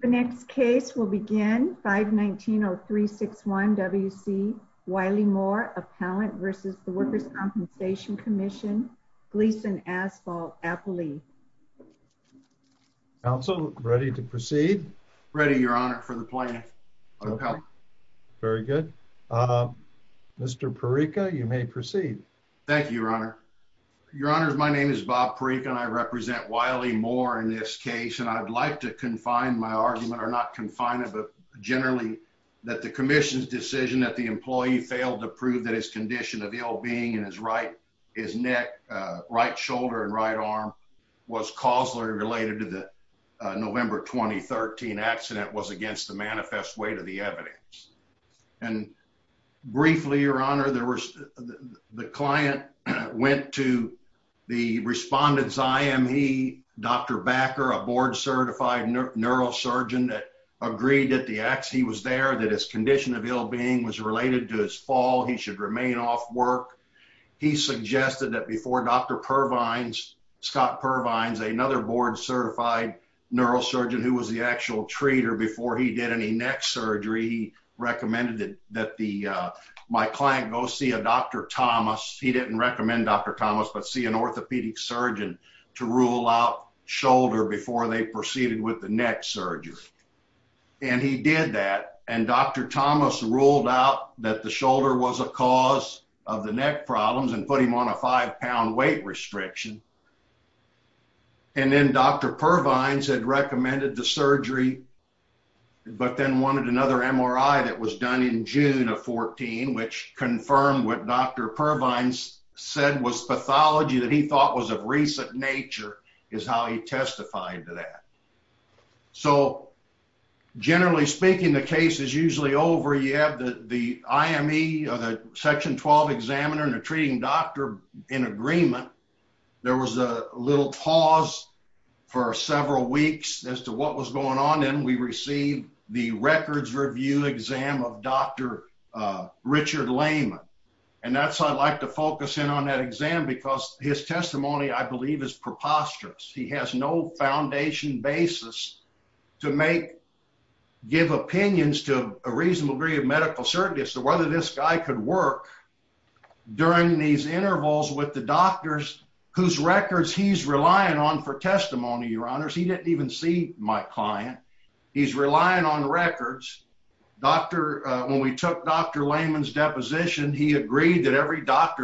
The next case will begin 519-0361 W.C. Wiley-Moore Appellant v. The Workers' Compensation Commission, Gleason Asphalt Appley. Counsel, ready to proceed? Ready, your honor, for the plaintiff. Very good. Mr. Parreca, you may proceed. Thank you, your honor. Your honors, my name is Bob Parreca and I represent Wiley-Moore in this case and I'd like to find my argument or not confine it but generally that the commission's decision that the employee failed to prove that his condition of ill being in his right his neck right shoulder and right arm was causally related to the November 2013 accident was against the manifest weight of the evidence. And briefly, your honor, there was the client went to the respondent's IME, Dr. Backer, a board certified neurosurgeon that agreed that the acts he was there that his condition of ill being was related to his fall. He should remain off work. He suggested that before Dr. Pervines, Scott Pervines, another board certified neurosurgeon who was the actual treater before he did any neck surgery, he recommended that the my client go see a Dr. Thomas. He didn't recommend Dr. Thomas but see an with the neck surgery. And he did that and Dr. Thomas ruled out that the shoulder was a cause of the neck problems and put him on a five pound weight restriction. And then Dr. Pervines had recommended the surgery but then wanted another MRI that was done in June of 14 which confirmed what Dr. Pervines said was pathology that he thought was of recent nature is how he testified to that. So generally speaking, the case is usually over. You have the IME or the section 12 examiner and a treating doctor in agreement. There was a little pause for several weeks as to what was going on. And we received the records review exam of Dr. Richard Lehman. And that's I'd like to focus in on that exam because his testimony I believe is preposterous. He has no foundation basis to make give opinions to a reasonable degree of medical certainty as to whether this guy could work during these intervals with the doctors whose records he's relying on for testimony. Your honors. He didn't even see my client. He's relying on records. Dr. When we took Dr Lehman's deposition, he and every doctor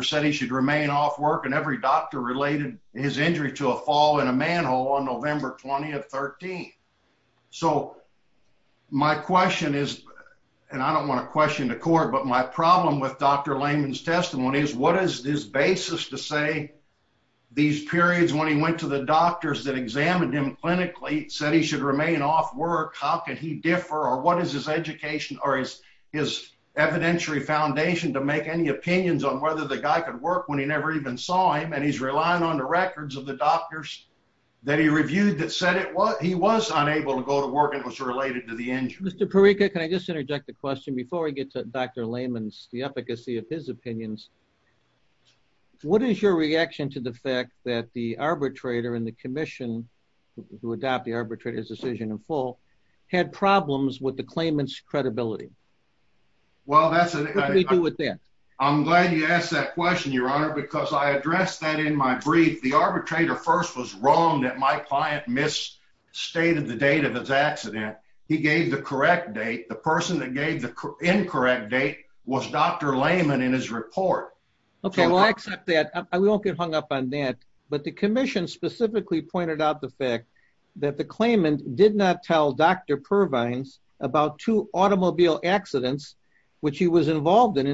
related his injury to a fall in a manhole on November 20 of 13. So my question is, and I don't want to question the court, but my problem with Dr. Lehman's testimony is what is this basis to say these periods when he went to the doctors that examined him clinically said he should remain off work? How can he differ? Or what is his education or is his evidentiary foundation to make any opinions on whether the guy could work when he never even saw him? And he's relying on the records of the doctors that he reviewed that said it was he was unable to go to work. It was related to the engine. Mr Parika, can I just interject the question before we get to Dr Lehman's the efficacy of his opinions? What is your reaction to the fact that the arbitrator in the commission who adopt the arbitrator's decision in full had problems with the claimants credibility? Well, that's what we do with that. I'm glad you asked that question, Your Honor, because I addressed that in my brief. The arbitrator first was wrong that my client miss stated the date of his accident. He gave the correct date. The person that gave the incorrect date was Dr Lehman in his report. Okay, we'll accept that. We won't get hung up on that. But the commission specifically pointed out the fact that the claimant did not tell Dr Purvines about two automobile accidents which he was Well, it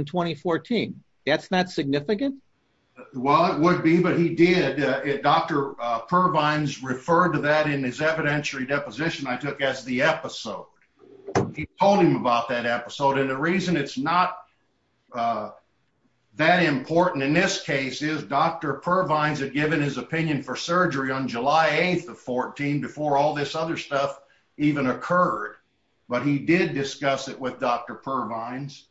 would be, but he did. Dr Purvines referred to that in his evidentiary deposition I took as the episode. He told him about that episode and the reason it's not, uh, that important in this case is Dr Purvines had given his opinion for surgery on July 8th of 14 before all this other stuff even occurred. But he did discuss it with Dr Purvines.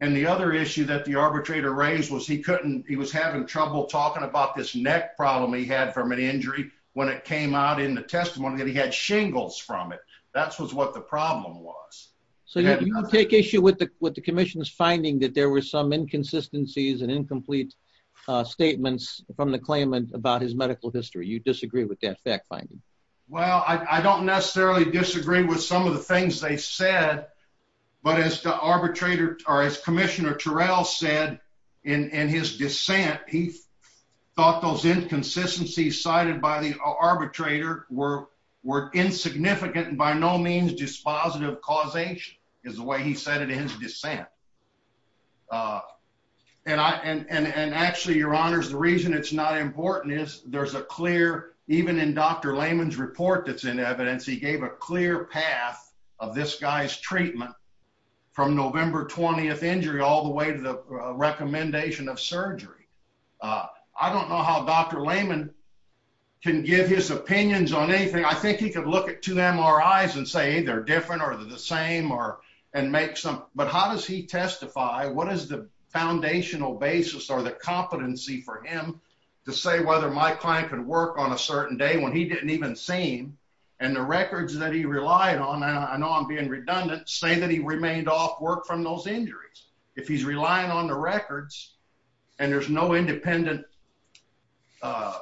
And the other way to raise was he couldn't. He was having trouble talking about this neck problem he had from an injury when it came out in the testimony that he had shingles from it. That's what the problem was. So you take issue with the with the commission's finding that there were some inconsistencies and incomplete statements from the claimant about his medical history. You disagree with that fact finding? Well, I don't necessarily disagree with some of the in his dissent. He thought those inconsistencies cited by the arbitrator were were insignificant and by no means dispositive causation is the way he said it in his dissent. Uh, and I and and and actually, your honors, the reason it's not important is there's a clear even in Dr Lehman's report that's in evidence. He gave a clear path of this guy's treatment from November 20th injury all the way to the recommendation of surgery. Uh, I don't know how Dr Lehman can give his opinions on anything. I think he could look at two MRIs and say they're different or the same or and make some. But how does he testify? What is the foundational basis or the competency for him to say whether my client could work on a certain day when he didn't even seen and the records that he relied on? I know I'm being redundant, say that he remained off work from those injuries. If he's relying on the records and there's no independent, uh,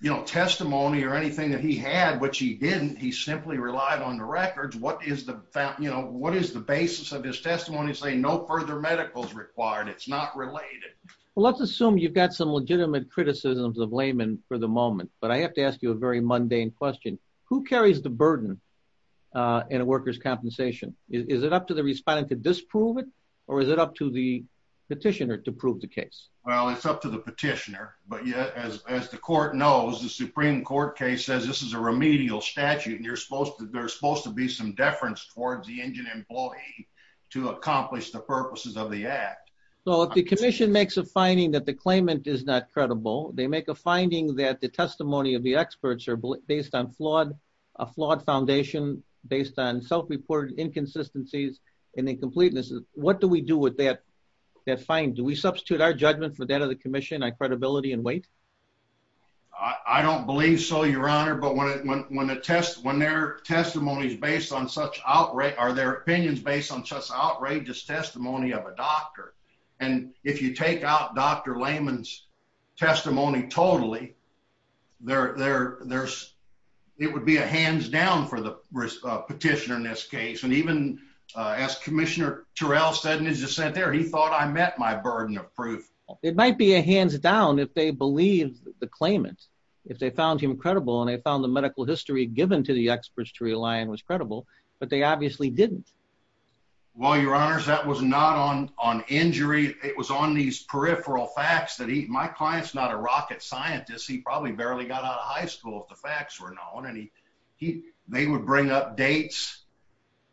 you know, testimony or anything that he had, which he didn't. He simply relied on the records. What is the, you know, what is the basis of his testimony? Say no further medicals required. It's not related. Let's assume you've got some legitimate criticisms of Lehman for the moment, but I have to ask you a very mundane question. Who carries the burden? Uh, in a worker's or is it up to the petitioner to prove the case? Well, it's up to the petitioner. But as the court knows, the Supreme Court case says this is a remedial statute, and you're supposed to. There's supposed to be some deference towards the engine employee to accomplish the purposes of the act. So if the commission makes a finding that the claimant is not credible, they make a finding that the testimony of the experts are based on flawed, flawed foundation based on self reported inconsistencies and incompleteness of what do we do with that? That's fine. Do we substitute our judgment for that of the commission? I credibility and wait. I don't believe so, Your Honor. But when it went when the test when their testimonies based on such outright are their opinions based on such outrageous testimony of a doctor. And if you take out Dr Lehman's testimony totally there, there's it would be a hands down for the petitioner in this case. And even as Commissioner Terrell said in his dissent there, he thought I met my burden of proof. It might be a hands down if they believe the claimant if they found him credible and they found the medical history given to the experts to rely on was credible, but they obviously didn't. Well, Your Honor, that was not on on injury. It was on these peripheral facts that he my clients, not a rocket scientist. He probably barely got out of high school if the facts were known, and he they would bring up dates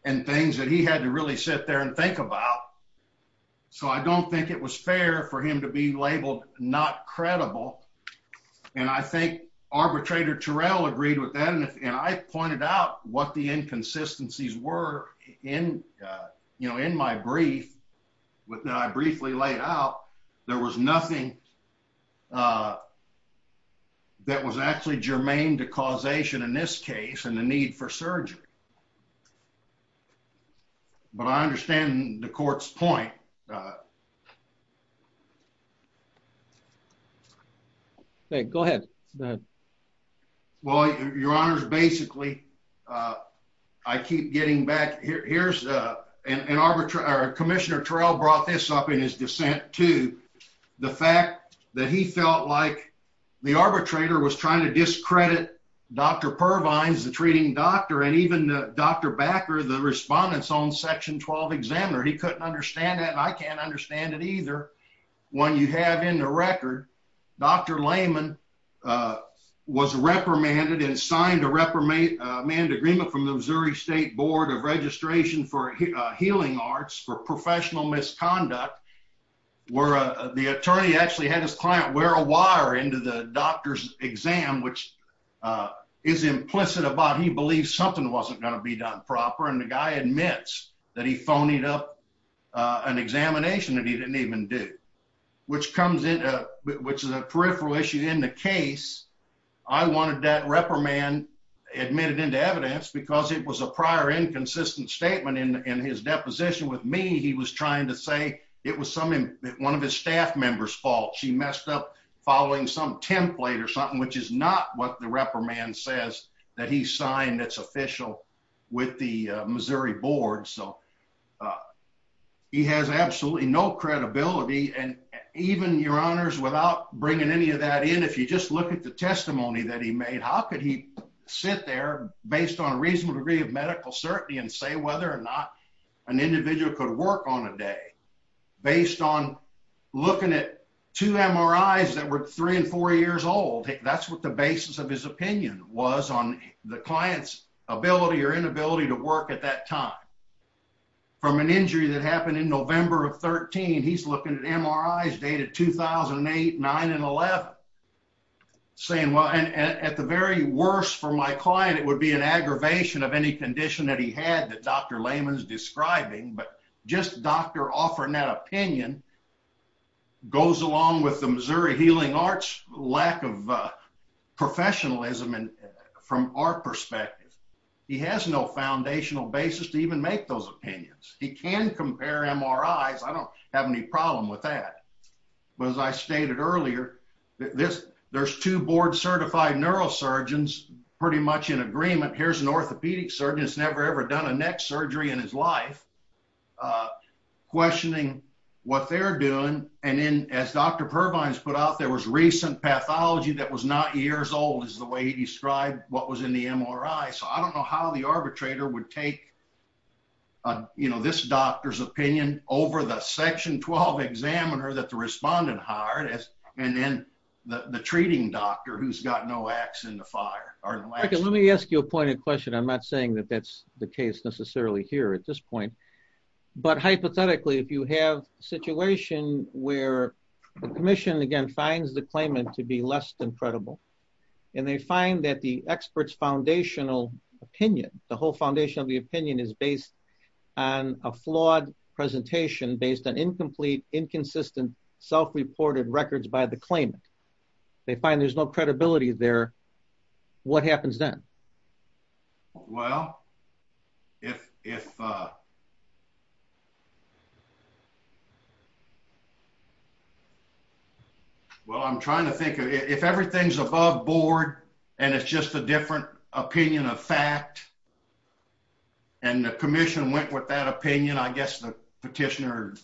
and things that he had to really sit there and think about. So I don't think it was fair for him to be labeled not credible. And I think arbitrator Terrell agreed with that. And I pointed out what the inconsistencies were in, you know, in my brief with that. I briefly laid out there was nothing uh, that was actually germane to causation in this case and the need for surgery. But I understand the court's point. Uh, go ahead. Well, Your Honor's basically, uh, I keep getting back here. Here's an arbitrary Commissioner Terrell brought this up in his dissent to the fact that he felt like the arbitrator was trying to discredit Dr Pervines, the treating doctor and even Dr Backer, the respondents on Section 12 examiner. He couldn't understand that. I can't understand it either. When you have in the record, Dr Lehman, uh, was reprimanded and signed a reprimand manned agreement from the Missouri State Board of Registration for Healing Arts for professional misconduct, where the attorney actually had his client wear a wire into the doctor's exam, which, uh, is implicit about. He believes something wasn't gonna be done proper, and the guy admits that he phoned it up an examination that he didn't even do, which comes in, which is a peripheral issue in the case. I wanted that reprimand admitted into evidence because it was a prior inconsistent statement in his deposition with me. He was trying to say it was something one of his staff members fault. She messed up following some template or something, which is not what the reprimand says that he signed its official with the Missouri board. So, uh, he has absolutely no credibility. And even your honors, without bringing any of that in, if you just look at the testimony that he made, how could he sit there based on a reasonable degree of medical certainty and say whether or not an individual could work on a day based on looking it to M. R. I. S. That were three and four years old. That's what the basis of his opinion was on the client's ability or inability to work at that time from an injury that happened in November of 13. He's looking at M. R. I. S. Data 2008, nine and 11 saying, Well, at the very worst for my client, it would be an aggravation of any condition that he had that Dr Lehman is describing. But just doctor offering that opinion goes along with the Missouri healing arts lack of professionalism. And from our perspective, he has no foundational basis to even make those opinions. He was, I stated earlier this. There's two board certified neurosurgeons pretty much in agreement. Here's an orthopedic surgeon's never ever done a neck surgery in his life, uh, questioning what they're doing. And then, as Dr. Provines put out, there was recent pathology that was not years old is the way he described what was in the M. R. I. So I don't know how the arbitrator would take you know this doctor's opinion over the section 12 examiner that the respondent hard and then the treating doctor who's got no acts in the fire. Let me ask you a point of question. I'm not saying that that's the case necessarily here at this point. But hypothetically, if you have a situation where the commission again finds the claimant to be less than credible and they find that the on a flawed presentation based on incomplete, inconsistent, self reported records by the claimant, they find there's no credibility there. What happens then? Well, if if, uh, well, I'm trying to think if everything's above board and it's just a different opinion of fact, and the commission went with that opinion, I guess the petitioner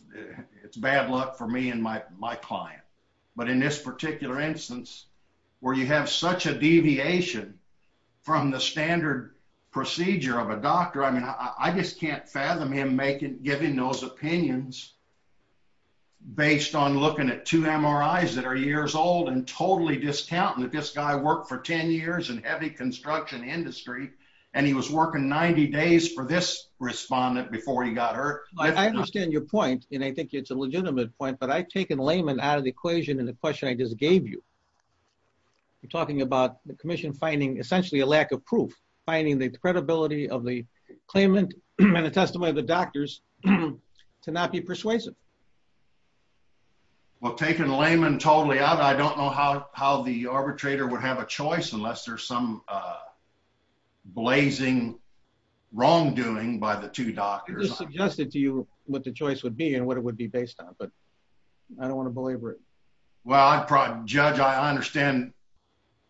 it's bad luck for me and my my client. But in this particular instance, where you have such a deviation from the standard procedure of a doctor, I mean, I just can't fathom him making giving those opinions based on looking at two M. R. I. S. That are years old and totally discounting this guy worked for 10 years and heavy construction industry, and he was working 90 days for this respondent before he got hurt. I understand your point, and I think it's a legitimate point. But I've taken layman out of the equation and the question I just gave you talking about the commission, finding essentially a lack of proof, finding the credibility of the claimant and the testimony of the doctors to not be persuasive. Yeah. Well, taking layman totally out. I don't know how how the arbitrator would have a choice unless there's some, uh, blazing wrongdoing by the two doctors suggested to you what the choice would be and what it would be based on. But I don't want to believe it. Well, I probably judge. I understand,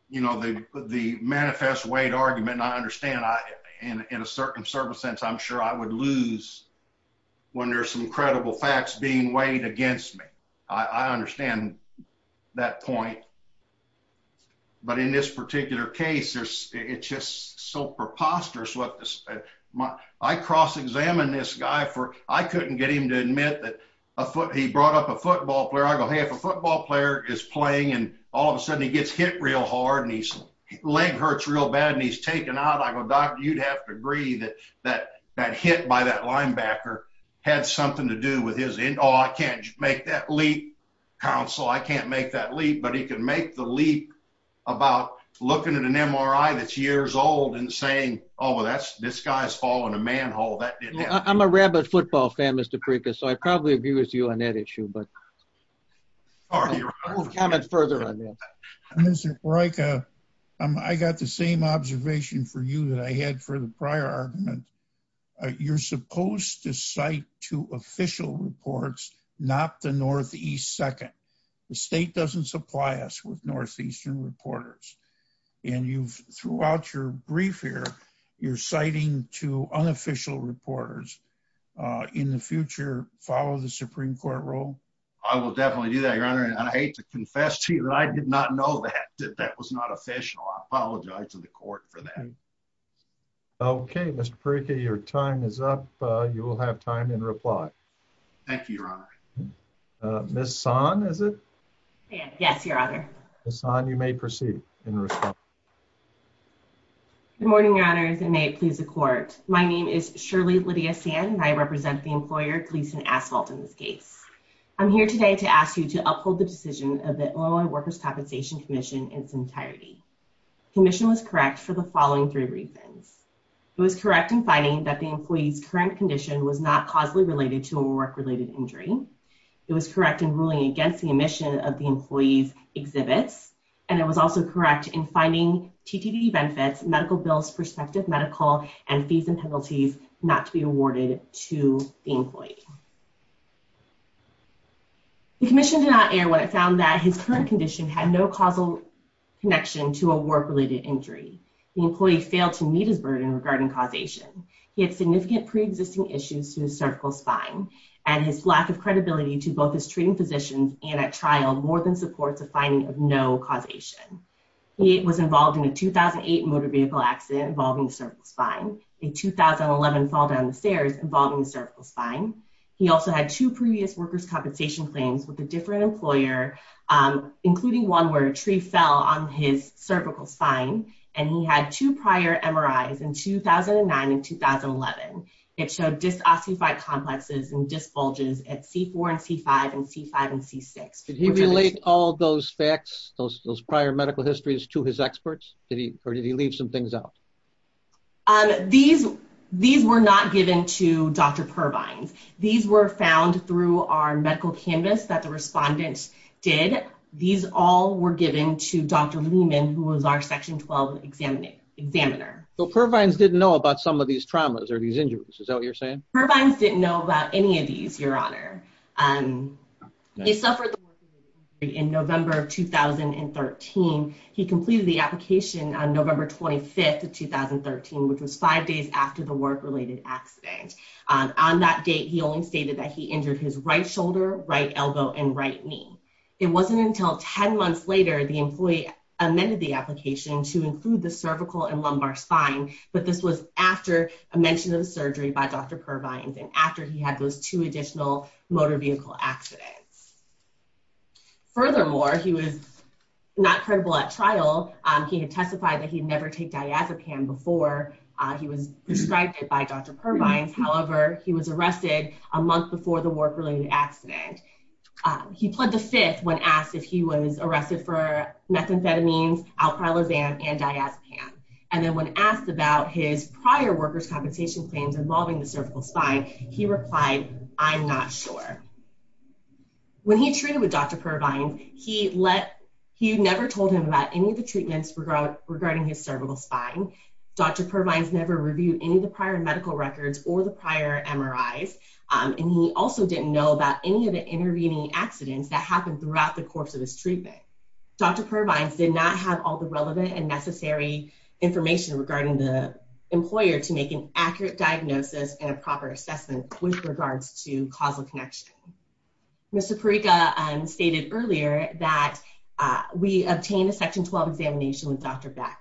you know, the manifest weight argument. I understand. In a certain service sense, I'm sure I would lose when there's some credible facts being weighed against me. I understand that point. But in this particular case, it's just so preposterous. What? I cross examined this guy for. I couldn't get him to admit that he brought up a football player. I go, Hey, if a football player is playing and all of a sudden he gets hit real hard and he's leg hurts real bad and he's taken out, I'm a doctor. You'd have to agree that that that hit by that linebacker had something to do with his in. Oh, I can't make that leap council. I can't make that leap, but he could make the leap about looking at an MRI that's years old and saying, Oh, well, that's this guy's falling a manhole that I'm a rabbit football fan, Mr Prickett. So I probably abuse you on that issue. But are you coming further on this? Right? I got the same observation for you that I had for the prior argument. You're supposed to cite to official reports, not the northeast. Second, the state doesn't supply us with northeastern reporters. And you've throughout your brief here, you're citing to unofficial reporters in the future. Follow the Supreme Court rule. I will definitely do that, Your Honor. And I hate to confess to you that I did not know that that was not official. I apologize to the court for that. Okay, Mr Pricky, your time is up. You will have time in reply. Thank you, Your Honor. Uh, Miss Son, is it? Yes, Your Honor. It's on. You may proceed in response. Good morning, Your Honor. May it please the court. My name is Shirley Lydia Sand, and I represent the employer Gleason Asphalt. In this case, I'm here today to ask you to uphold the decision of the Oil and Workers Compensation Commission in its entirety. Commission was correct for the following three reasons. It was correct in finding that the employee's current condition was not causally related to a work related injury. It was correct in ruling against the emission of the employee's exhibits, and it was also correct in finding TTV benefits, medical bills, prospective medical and fees and penalties not to be awarded to the employee. The commission did not air what I found that his current condition had no causal connection to a work related injury. The employee failed to meet his burden regarding causation. He had significant pre existing issues to his cervical spine, and his lack of credibility to both his treating physicians and at trial more than supports a finding of no causation. It was involved in a 2008 motor vehicle accident involving the cervical spine, he also had two previous workers compensation claims with a different employer, including one where a tree fell on his cervical spine, and he had two prior MRIs in 2009 and 2011. It showed just osteophyte complexes and just bulges at C4 and C5 and C5 and C6. Did he relate all those facts, those those prior medical histories to his experts? Did he or did he leave some things out? These, these were not given to Dr. Purvines. These were found through our medical canvas that the respondents did. These all were given to Dr. Lehman, who was our section 12 examining examiner. So Purvines didn't know about some of these traumas or these injuries. Is that what you're saying? Purvines didn't know about any of these, your honor. Um, he suffered in November of 2013. He was five days after the work related accident. On that date, he only stated that he injured his right shoulder, right elbow and right knee. It wasn't until 10 months later, the employee amended the application to include the cervical and lumbar spine. But this was after a mention of surgery by Dr. Purvines and after he had those two additional motor vehicle accidents. Furthermore, he was not credible at trial. He had testified that he'd never take diazepam before he was prescribed it by Dr. Purvines. However, he was arrested a month before the work related accident. He pled the fifth when asked if he was arrested for methamphetamines, alpralizam and diazepam. And then when asked about his prior workers' compensation claims involving the cervical spine, he replied, I'm not sure. When he treated with Dr. Purvines, he let, he never told him about any of the treatments regarding his cervical spine. Dr. Purvines never reviewed any of the prior medical records or the prior MRIs. And he also didn't know about any of the intervening accidents that happened throughout the course of his treatment. Dr. Purvines did not have all the relevant and necessary information regarding the employer to make an accurate diagnosis and a proper assessment with regards to causal connection. Mr. Parika stated earlier that we obtained a section 12 examination with Dr. Bakker.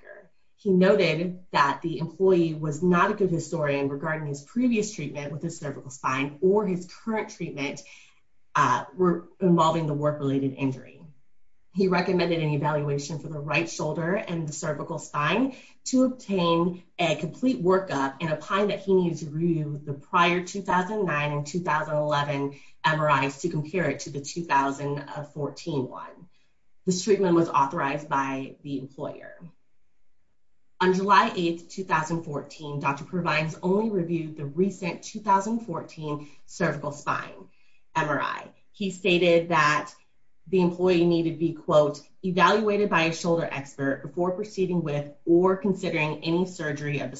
He noted that the employee was not a good historian regarding his previous treatment with his cervical spine or his current treatment involving the work related injury. He recommended an evaluation for the right shoulder and the cervical spine to obtain a complete workup in a time that he needed to MRIs to compare it to the 2014 one. This treatment was authorized by the employer. On July 8, 2014, Dr. Purvines only reviewed the recent 2014 cervical spine MRI. He stated that the employee needed to be quote, evaluated by a shoulder expert before proceeding with or considering any surgery of the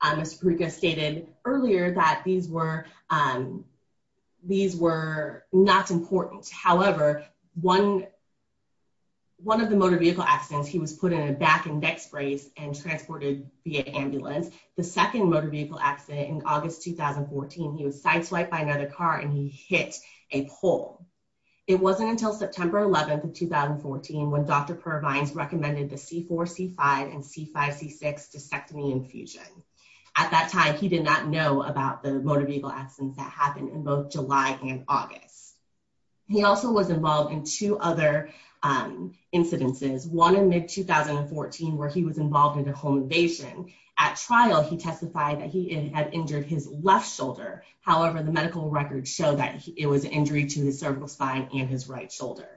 Mr. Parika stated earlier that these were not important. However, one of the motor vehicle accidents, he was put in a back and neck brace and transported via ambulance. The second motor vehicle accident in August 2014, he was sideswiped by another car and he hit a pole. It wasn't until September 11 of 2014 when Dr. Purvines recommended the C4 C5 and C5 C6 discectomy infusion. At that time, he did not know about the motor vehicle accidents that happened in both July and August. He also was involved in two other, um, incidences, one in mid 2014, where he was involved in a home invasion. At trial, he testified that he had injured his left shoulder. However, the medical records show that it was an injury to the cervical spine and his right shoulder.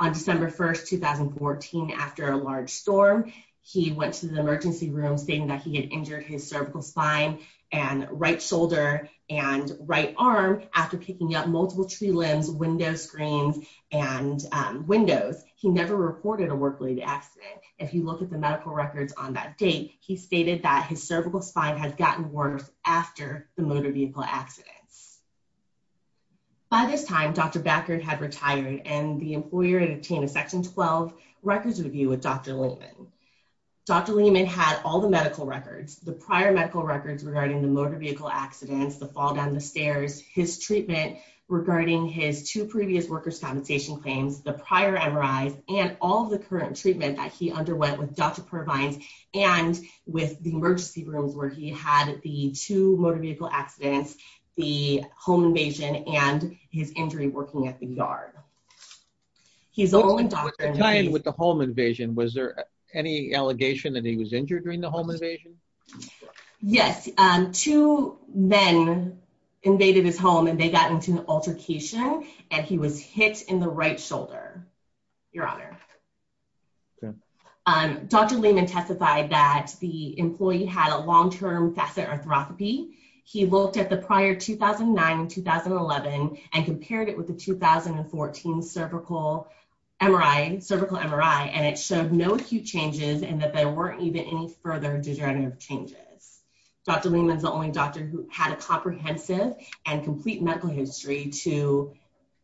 On December 1st, 2014, after a large storm, he went to the emergency room stating that he had injured his cervical spine and right shoulder and right arm after picking up multiple tree limbs, window screens and windows. He never reported a work related accident. If you look at the medical records on that date, he stated that his cervical spine has gotten worse after the motor vehicle accidents. By this time, Dr. Backard had retired and the employer had obtained a section 12 records review with Dr. Lehman. Dr. Lehman had all the medical records, the prior medical records regarding the motor vehicle accidents, the fall down the stairs, his treatment regarding his two previous workers compensation claims, the prior MRIs and all the current treatment that he underwent with Dr. Purvines and with the emergency rooms where he had the two motor vehicle accidents, the home invasion and his injury working at the yard. He's only doctor in line with the home invasion. Was there any allegation that he was injured during the home invasion? Yes, two men invaded his home and they got into an altercation and he was hit in the right shoulder. Your honor. Dr. Lehman testified that the employee had a long-term facet arthroscopy. He looked at the prior 2009 and 2011 and compared it with the 2014 cervical MRI and it showed no acute changes and that there weren't even any further degenerative changes. Dr. Lehman is the only doctor who had a comprehensive and complete medical history to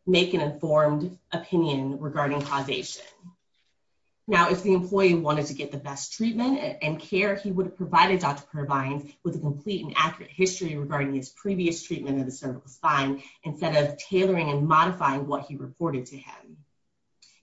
make an informed opinion regarding causation. Now, if the employee wanted to get the best treatment and care, he would have provided Dr. Purvines with a complete and accurate history regarding his previous treatment of the cervical spine instead of tailoring and modifying what he reported to him.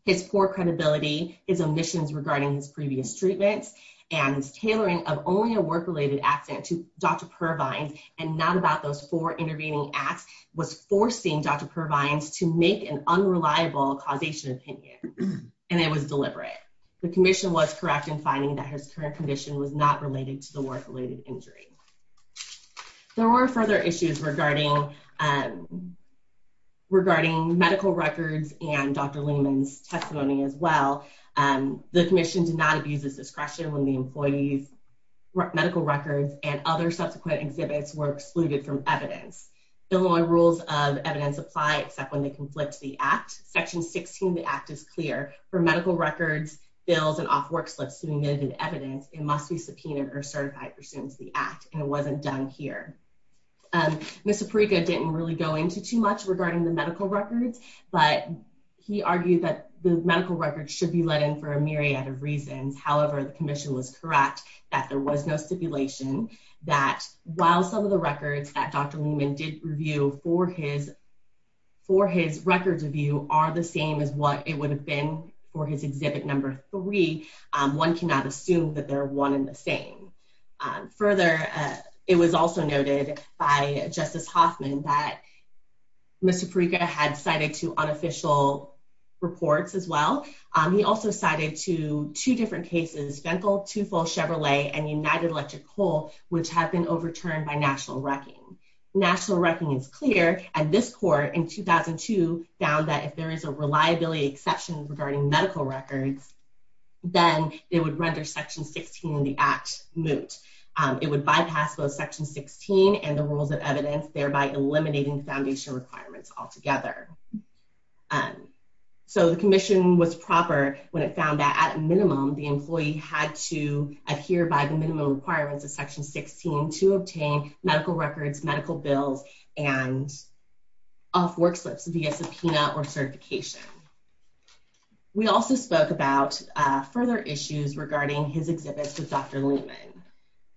His poor credibility, his omissions regarding his previous treatments and his tailoring of only a work-related accident to Dr. Purvines and not about those four intervening acts was forcing Dr. Purvines to make an unreliable causation opinion and it was deliberate. The commission was correct in finding that his current condition was not related to the work-related injury. There were further issues regarding regarding medical records and Dr. Lehman's testimony as well. The commission did not abuse its discretion when the employee's medical records and other subsequent exhibits were excluded from evidence. Illinois rules of evidence apply except when they conflict the Act. Section 16 of the Act is clear. For medical records, bills, and off work slips submitted evidence, it must be subpoenaed or certified pursuant to the Act and it wasn't done here. Mr. Pariga didn't really go into too much regarding the medical records, but he argued that the medical records should be let in for a myriad of reasons. However, the stipulation that while some of the records that Dr. Lehman did review for his for his records review are the same as what it would have been for his exhibit number three, one cannot assume that they're one in the same. Further, it was also noted by Justice Hoffman that Mr. Pariga had cited two unofficial reports as well. He also cited two different cases, Fentel, Tufo, Chevrolet, and United Electric Coal, which have been overturned by national wrecking. National wrecking is clear, and this court in 2002 found that if there is a reliability exception regarding medical records, then it would render Section 16 in the Act moot. It would bypass both Section 16 and the rules of evidence, thereby eliminating foundation requirements altogether. So the Commission was proper when it found that at minimum the employee had to adhere by the minimum requirements of Section 16 to obtain medical records, medical bills, and off work slips via subpoena or certification. We also spoke about further issues regarding his exhibits with Dr. Lehman.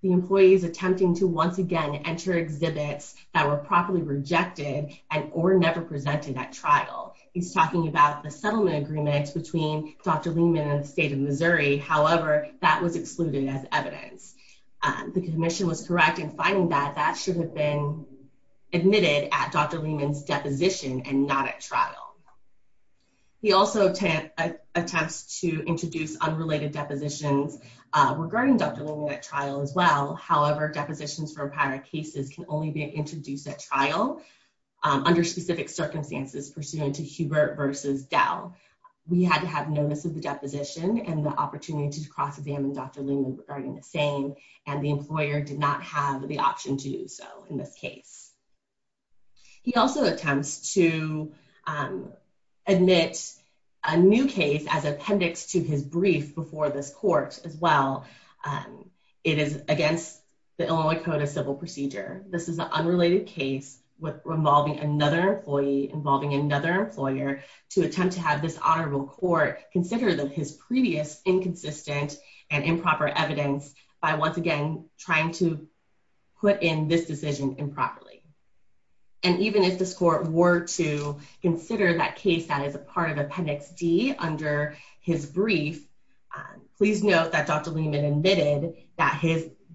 The employees attempting to once again enter exhibits that were properly rejected and or never presented at trial. He's talking about the settlement agreements between Dr. Lehman and the state of Missouri, however that was excluded as evidence. The Commission was correct in finding that that should have been admitted at Dr. Lehman's deposition and not at trial. He also attempts to introduce unrelated depositions regarding Dr. Lehman at trial as well, however depositions for specific circumstances pursuant to Hubert versus Dell. We had to have notice of the deposition and the opportunity to cross-examine Dr. Lehman regarding the same, and the employer did not have the option to do so in this case. He also attempts to admit a new case as appendix to his brief before this court as well. It is against the Illinois Code of Civil Procedure. This is an unrelated case with involving another employee, involving another employer to attempt to have this honorable court consider that his previous inconsistent and improper evidence by once again trying to put in this decision improperly. And even if this court were to consider that case that is a part of appendix D under his brief, please note that Dr. Lehman admitted that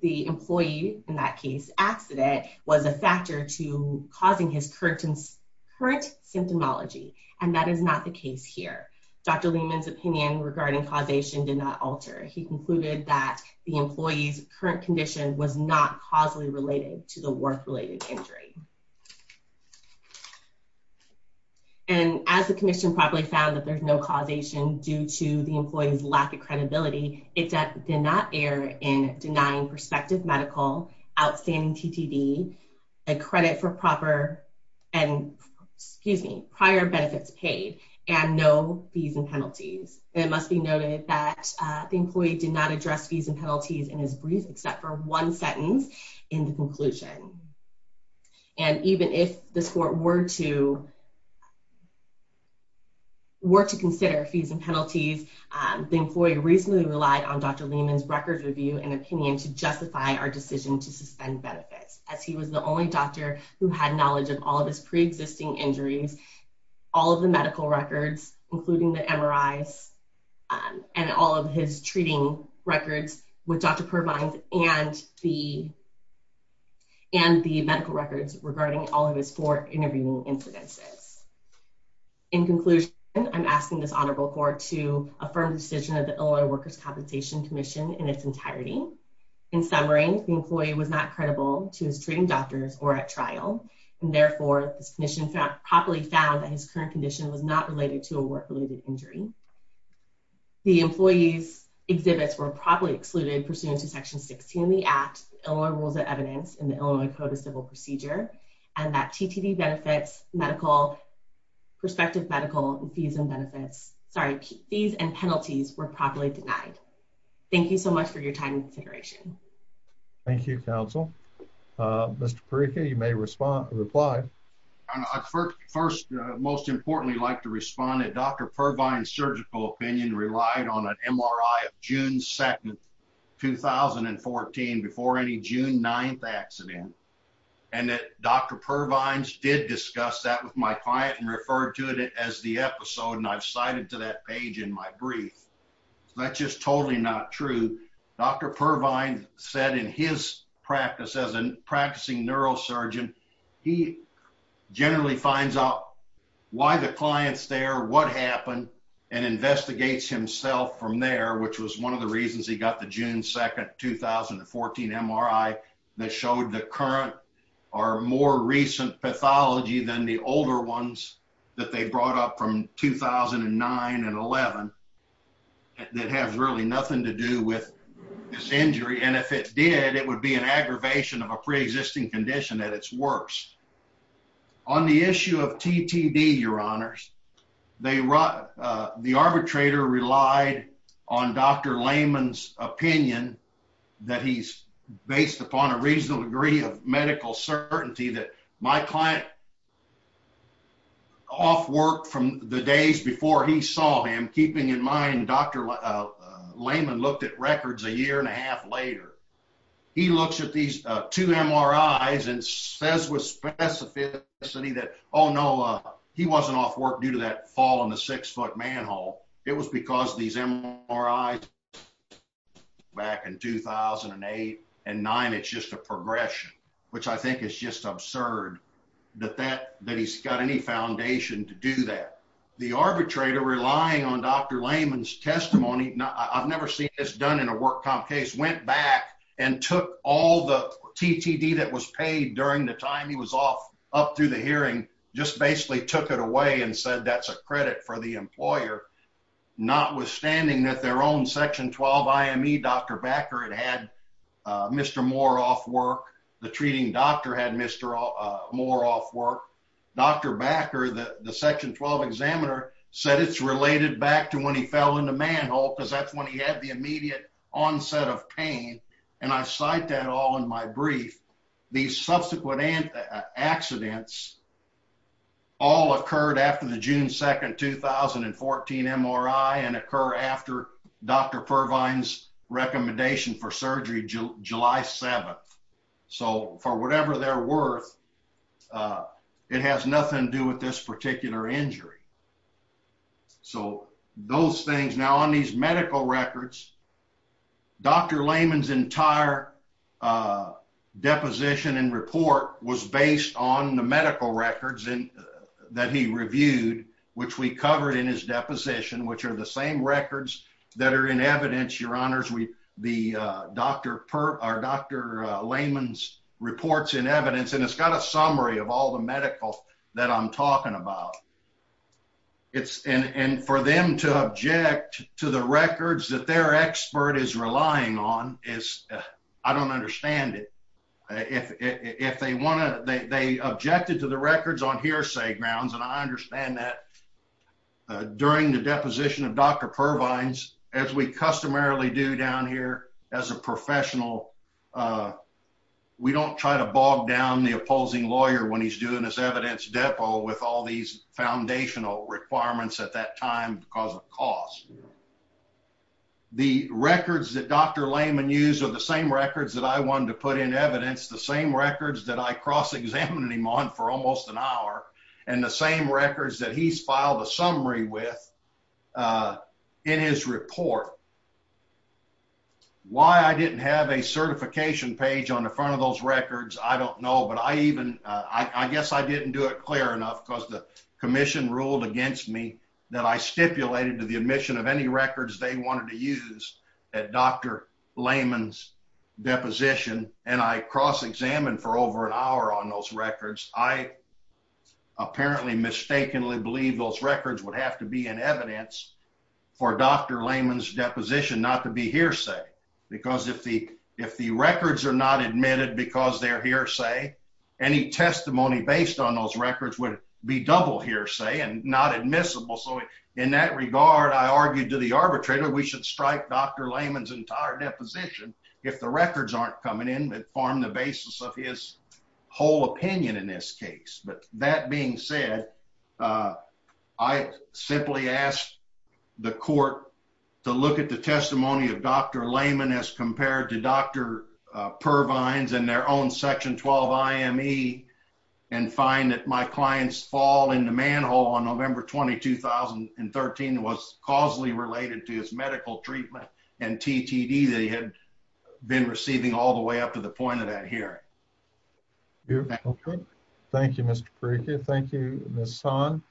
the employee in that case accident was a factor to causing his current symptomology, and that is not the case here. Dr. Lehman's opinion regarding causation did not alter. He concluded that the employee's current condition was not causally related to the work-related injury. And as the commission probably found that there's no causation due to the employee's lack of credibility, it did not err in denying prospective medical, outstanding TTD, a credit for proper and prior benefits paid, and no fees and penalties. It must be noted that the employee did not address fees and penalties in his brief except for one sentence in the conclusion. And even if this court were to consider fees and penalties, the employee reasonably relied on Dr. Lehman's records review and opinion to justify our decision to suspend benefits, as he was the only doctor who had knowledge of all of his pre-existing injuries, all of the medical records, including the MRIs, and all of his treating records with Dr. Pervine and the medical records regarding all of his four intervening incidences. In conclusion, I'm asking this Honorable Court to affirm the decision of the Illinois Workers' Compensation Commission in its entirety. In summary, the employee was not credible to his treating doctors or at trial, and therefore this commission probably found that his current condition was not related to a work-related injury. The employee's exhibits were probably excluded pursuant to Section 16 of the Act, Illinois Rules of Procedure. The employee's CTD benefits, medical, prospective medical, and fees and benefits, sorry, fees and penalties were probably denied. Thank you so much for your time and consideration. Thank you, counsel. Mr. Perica, you may respond or reply. First, most importantly, I'd like to respond that Dr. Pervine's surgical opinion relied on an MRI of June 2nd, 2014 before any June 9th incident, and that Dr. Pervine's did discuss that with my client and referred to it as the episode, and I've cited to that page in my brief. That's just totally not true. Dr. Pervine said in his practice as a practicing neurosurgeon, he generally finds out why the client's there, what happened, and investigates himself from there, which was one of the reasons he got the June 2nd, 2014 MRI that showed the current or more recent pathology than the older ones that they brought up from 2009 and 11 that has really nothing to do with this injury, and if it did, it would be an aggravation of a pre-existing condition at its worst. On the issue of TTD, your honors, the arbitrator relied on Dr. Pervine's reasonable degree of medical certainty that my client, off work from the days before he saw him, keeping in mind Dr. Lehman looked at records a year and a half later, he looks at these two MRIs and says with specificity that, oh no, he wasn't off work due to that fall in the six-foot manhole. It was because these MRIs back in 2008 and 2009, it's just a progression, which I think is just absurd that he's got any foundation to do that. The arbitrator, relying on Dr. Lehman's testimony, I've never seen this done in a work comp case, went back and took all the TTD that was paid during the time he was off up through the hearing, just basically took it away and said that's a credit for the employer, notwithstanding that their own Section 12 IME, Dr. Bakker, had had Mr. Moore off work, the treating doctor had Mr. Moore off work. Dr. Bakker, the Section 12 examiner, said it's related back to when he fell in the manhole because that's when he had the immediate onset of pain, and I cite that all in my brief. These MRI and occur after Dr. Purvine's recommendation for surgery, July 7th, so for whatever they're worth, it has nothing to do with this particular injury. So those things, now on these medical records, Dr. Lehman's entire deposition and report was based on the medical records that he reviewed, which we covered in his deposition, which are the same records that are in evidence, your honors, Dr. Lehman's reports in evidence, and it's got a summary of all the medical that I'm talking about. And for them to object to the records that their expert is relying on, I don't understand it. If they want to, they objected to the records on hearsay grounds, and I note that during the deposition of Dr. Purvine's, as we customarily do down here as a professional, we don't try to bog down the opposing lawyer when he's doing his evidence depo with all these foundational requirements at that time because of cost. The records that Dr. Lehman used are the same records that I wanted to put in evidence, the same records that I cross-examined him on for almost an hour, and the same records that he's filed a summary with in his report. Why I didn't have a certification page on the front of those records, I don't know, but I even, I guess I didn't do it clear enough because the commission ruled against me that I stipulated to the admission of any records they wanted to use at Dr. Lehman's deposition, and I cross-examined for over an hour on those records. I apparently mistakenly believe those records would have to be in evidence for Dr. Lehman's deposition not to be hearsay because if the records are not admitted because they're hearsay, any testimony based on those records would be double hearsay and not admissible. So in that regard, I argued to the arbitrator we should strike Dr. Lehman's entire deposition if the records aren't coming in that form the basis of his whole opinion in this case. But that being said, I simply asked the court to look at the testimony of Dr. Lehman as compared to Dr. Pervines and their own Section 12 IME and find that my client's fall in the manhole on November 20, 2013 was causally related to his medical treatment and TTD that he had been receiving all the way up to the point of that hearing. Thank you, Mr. Perica. Thank you, Ms. Son.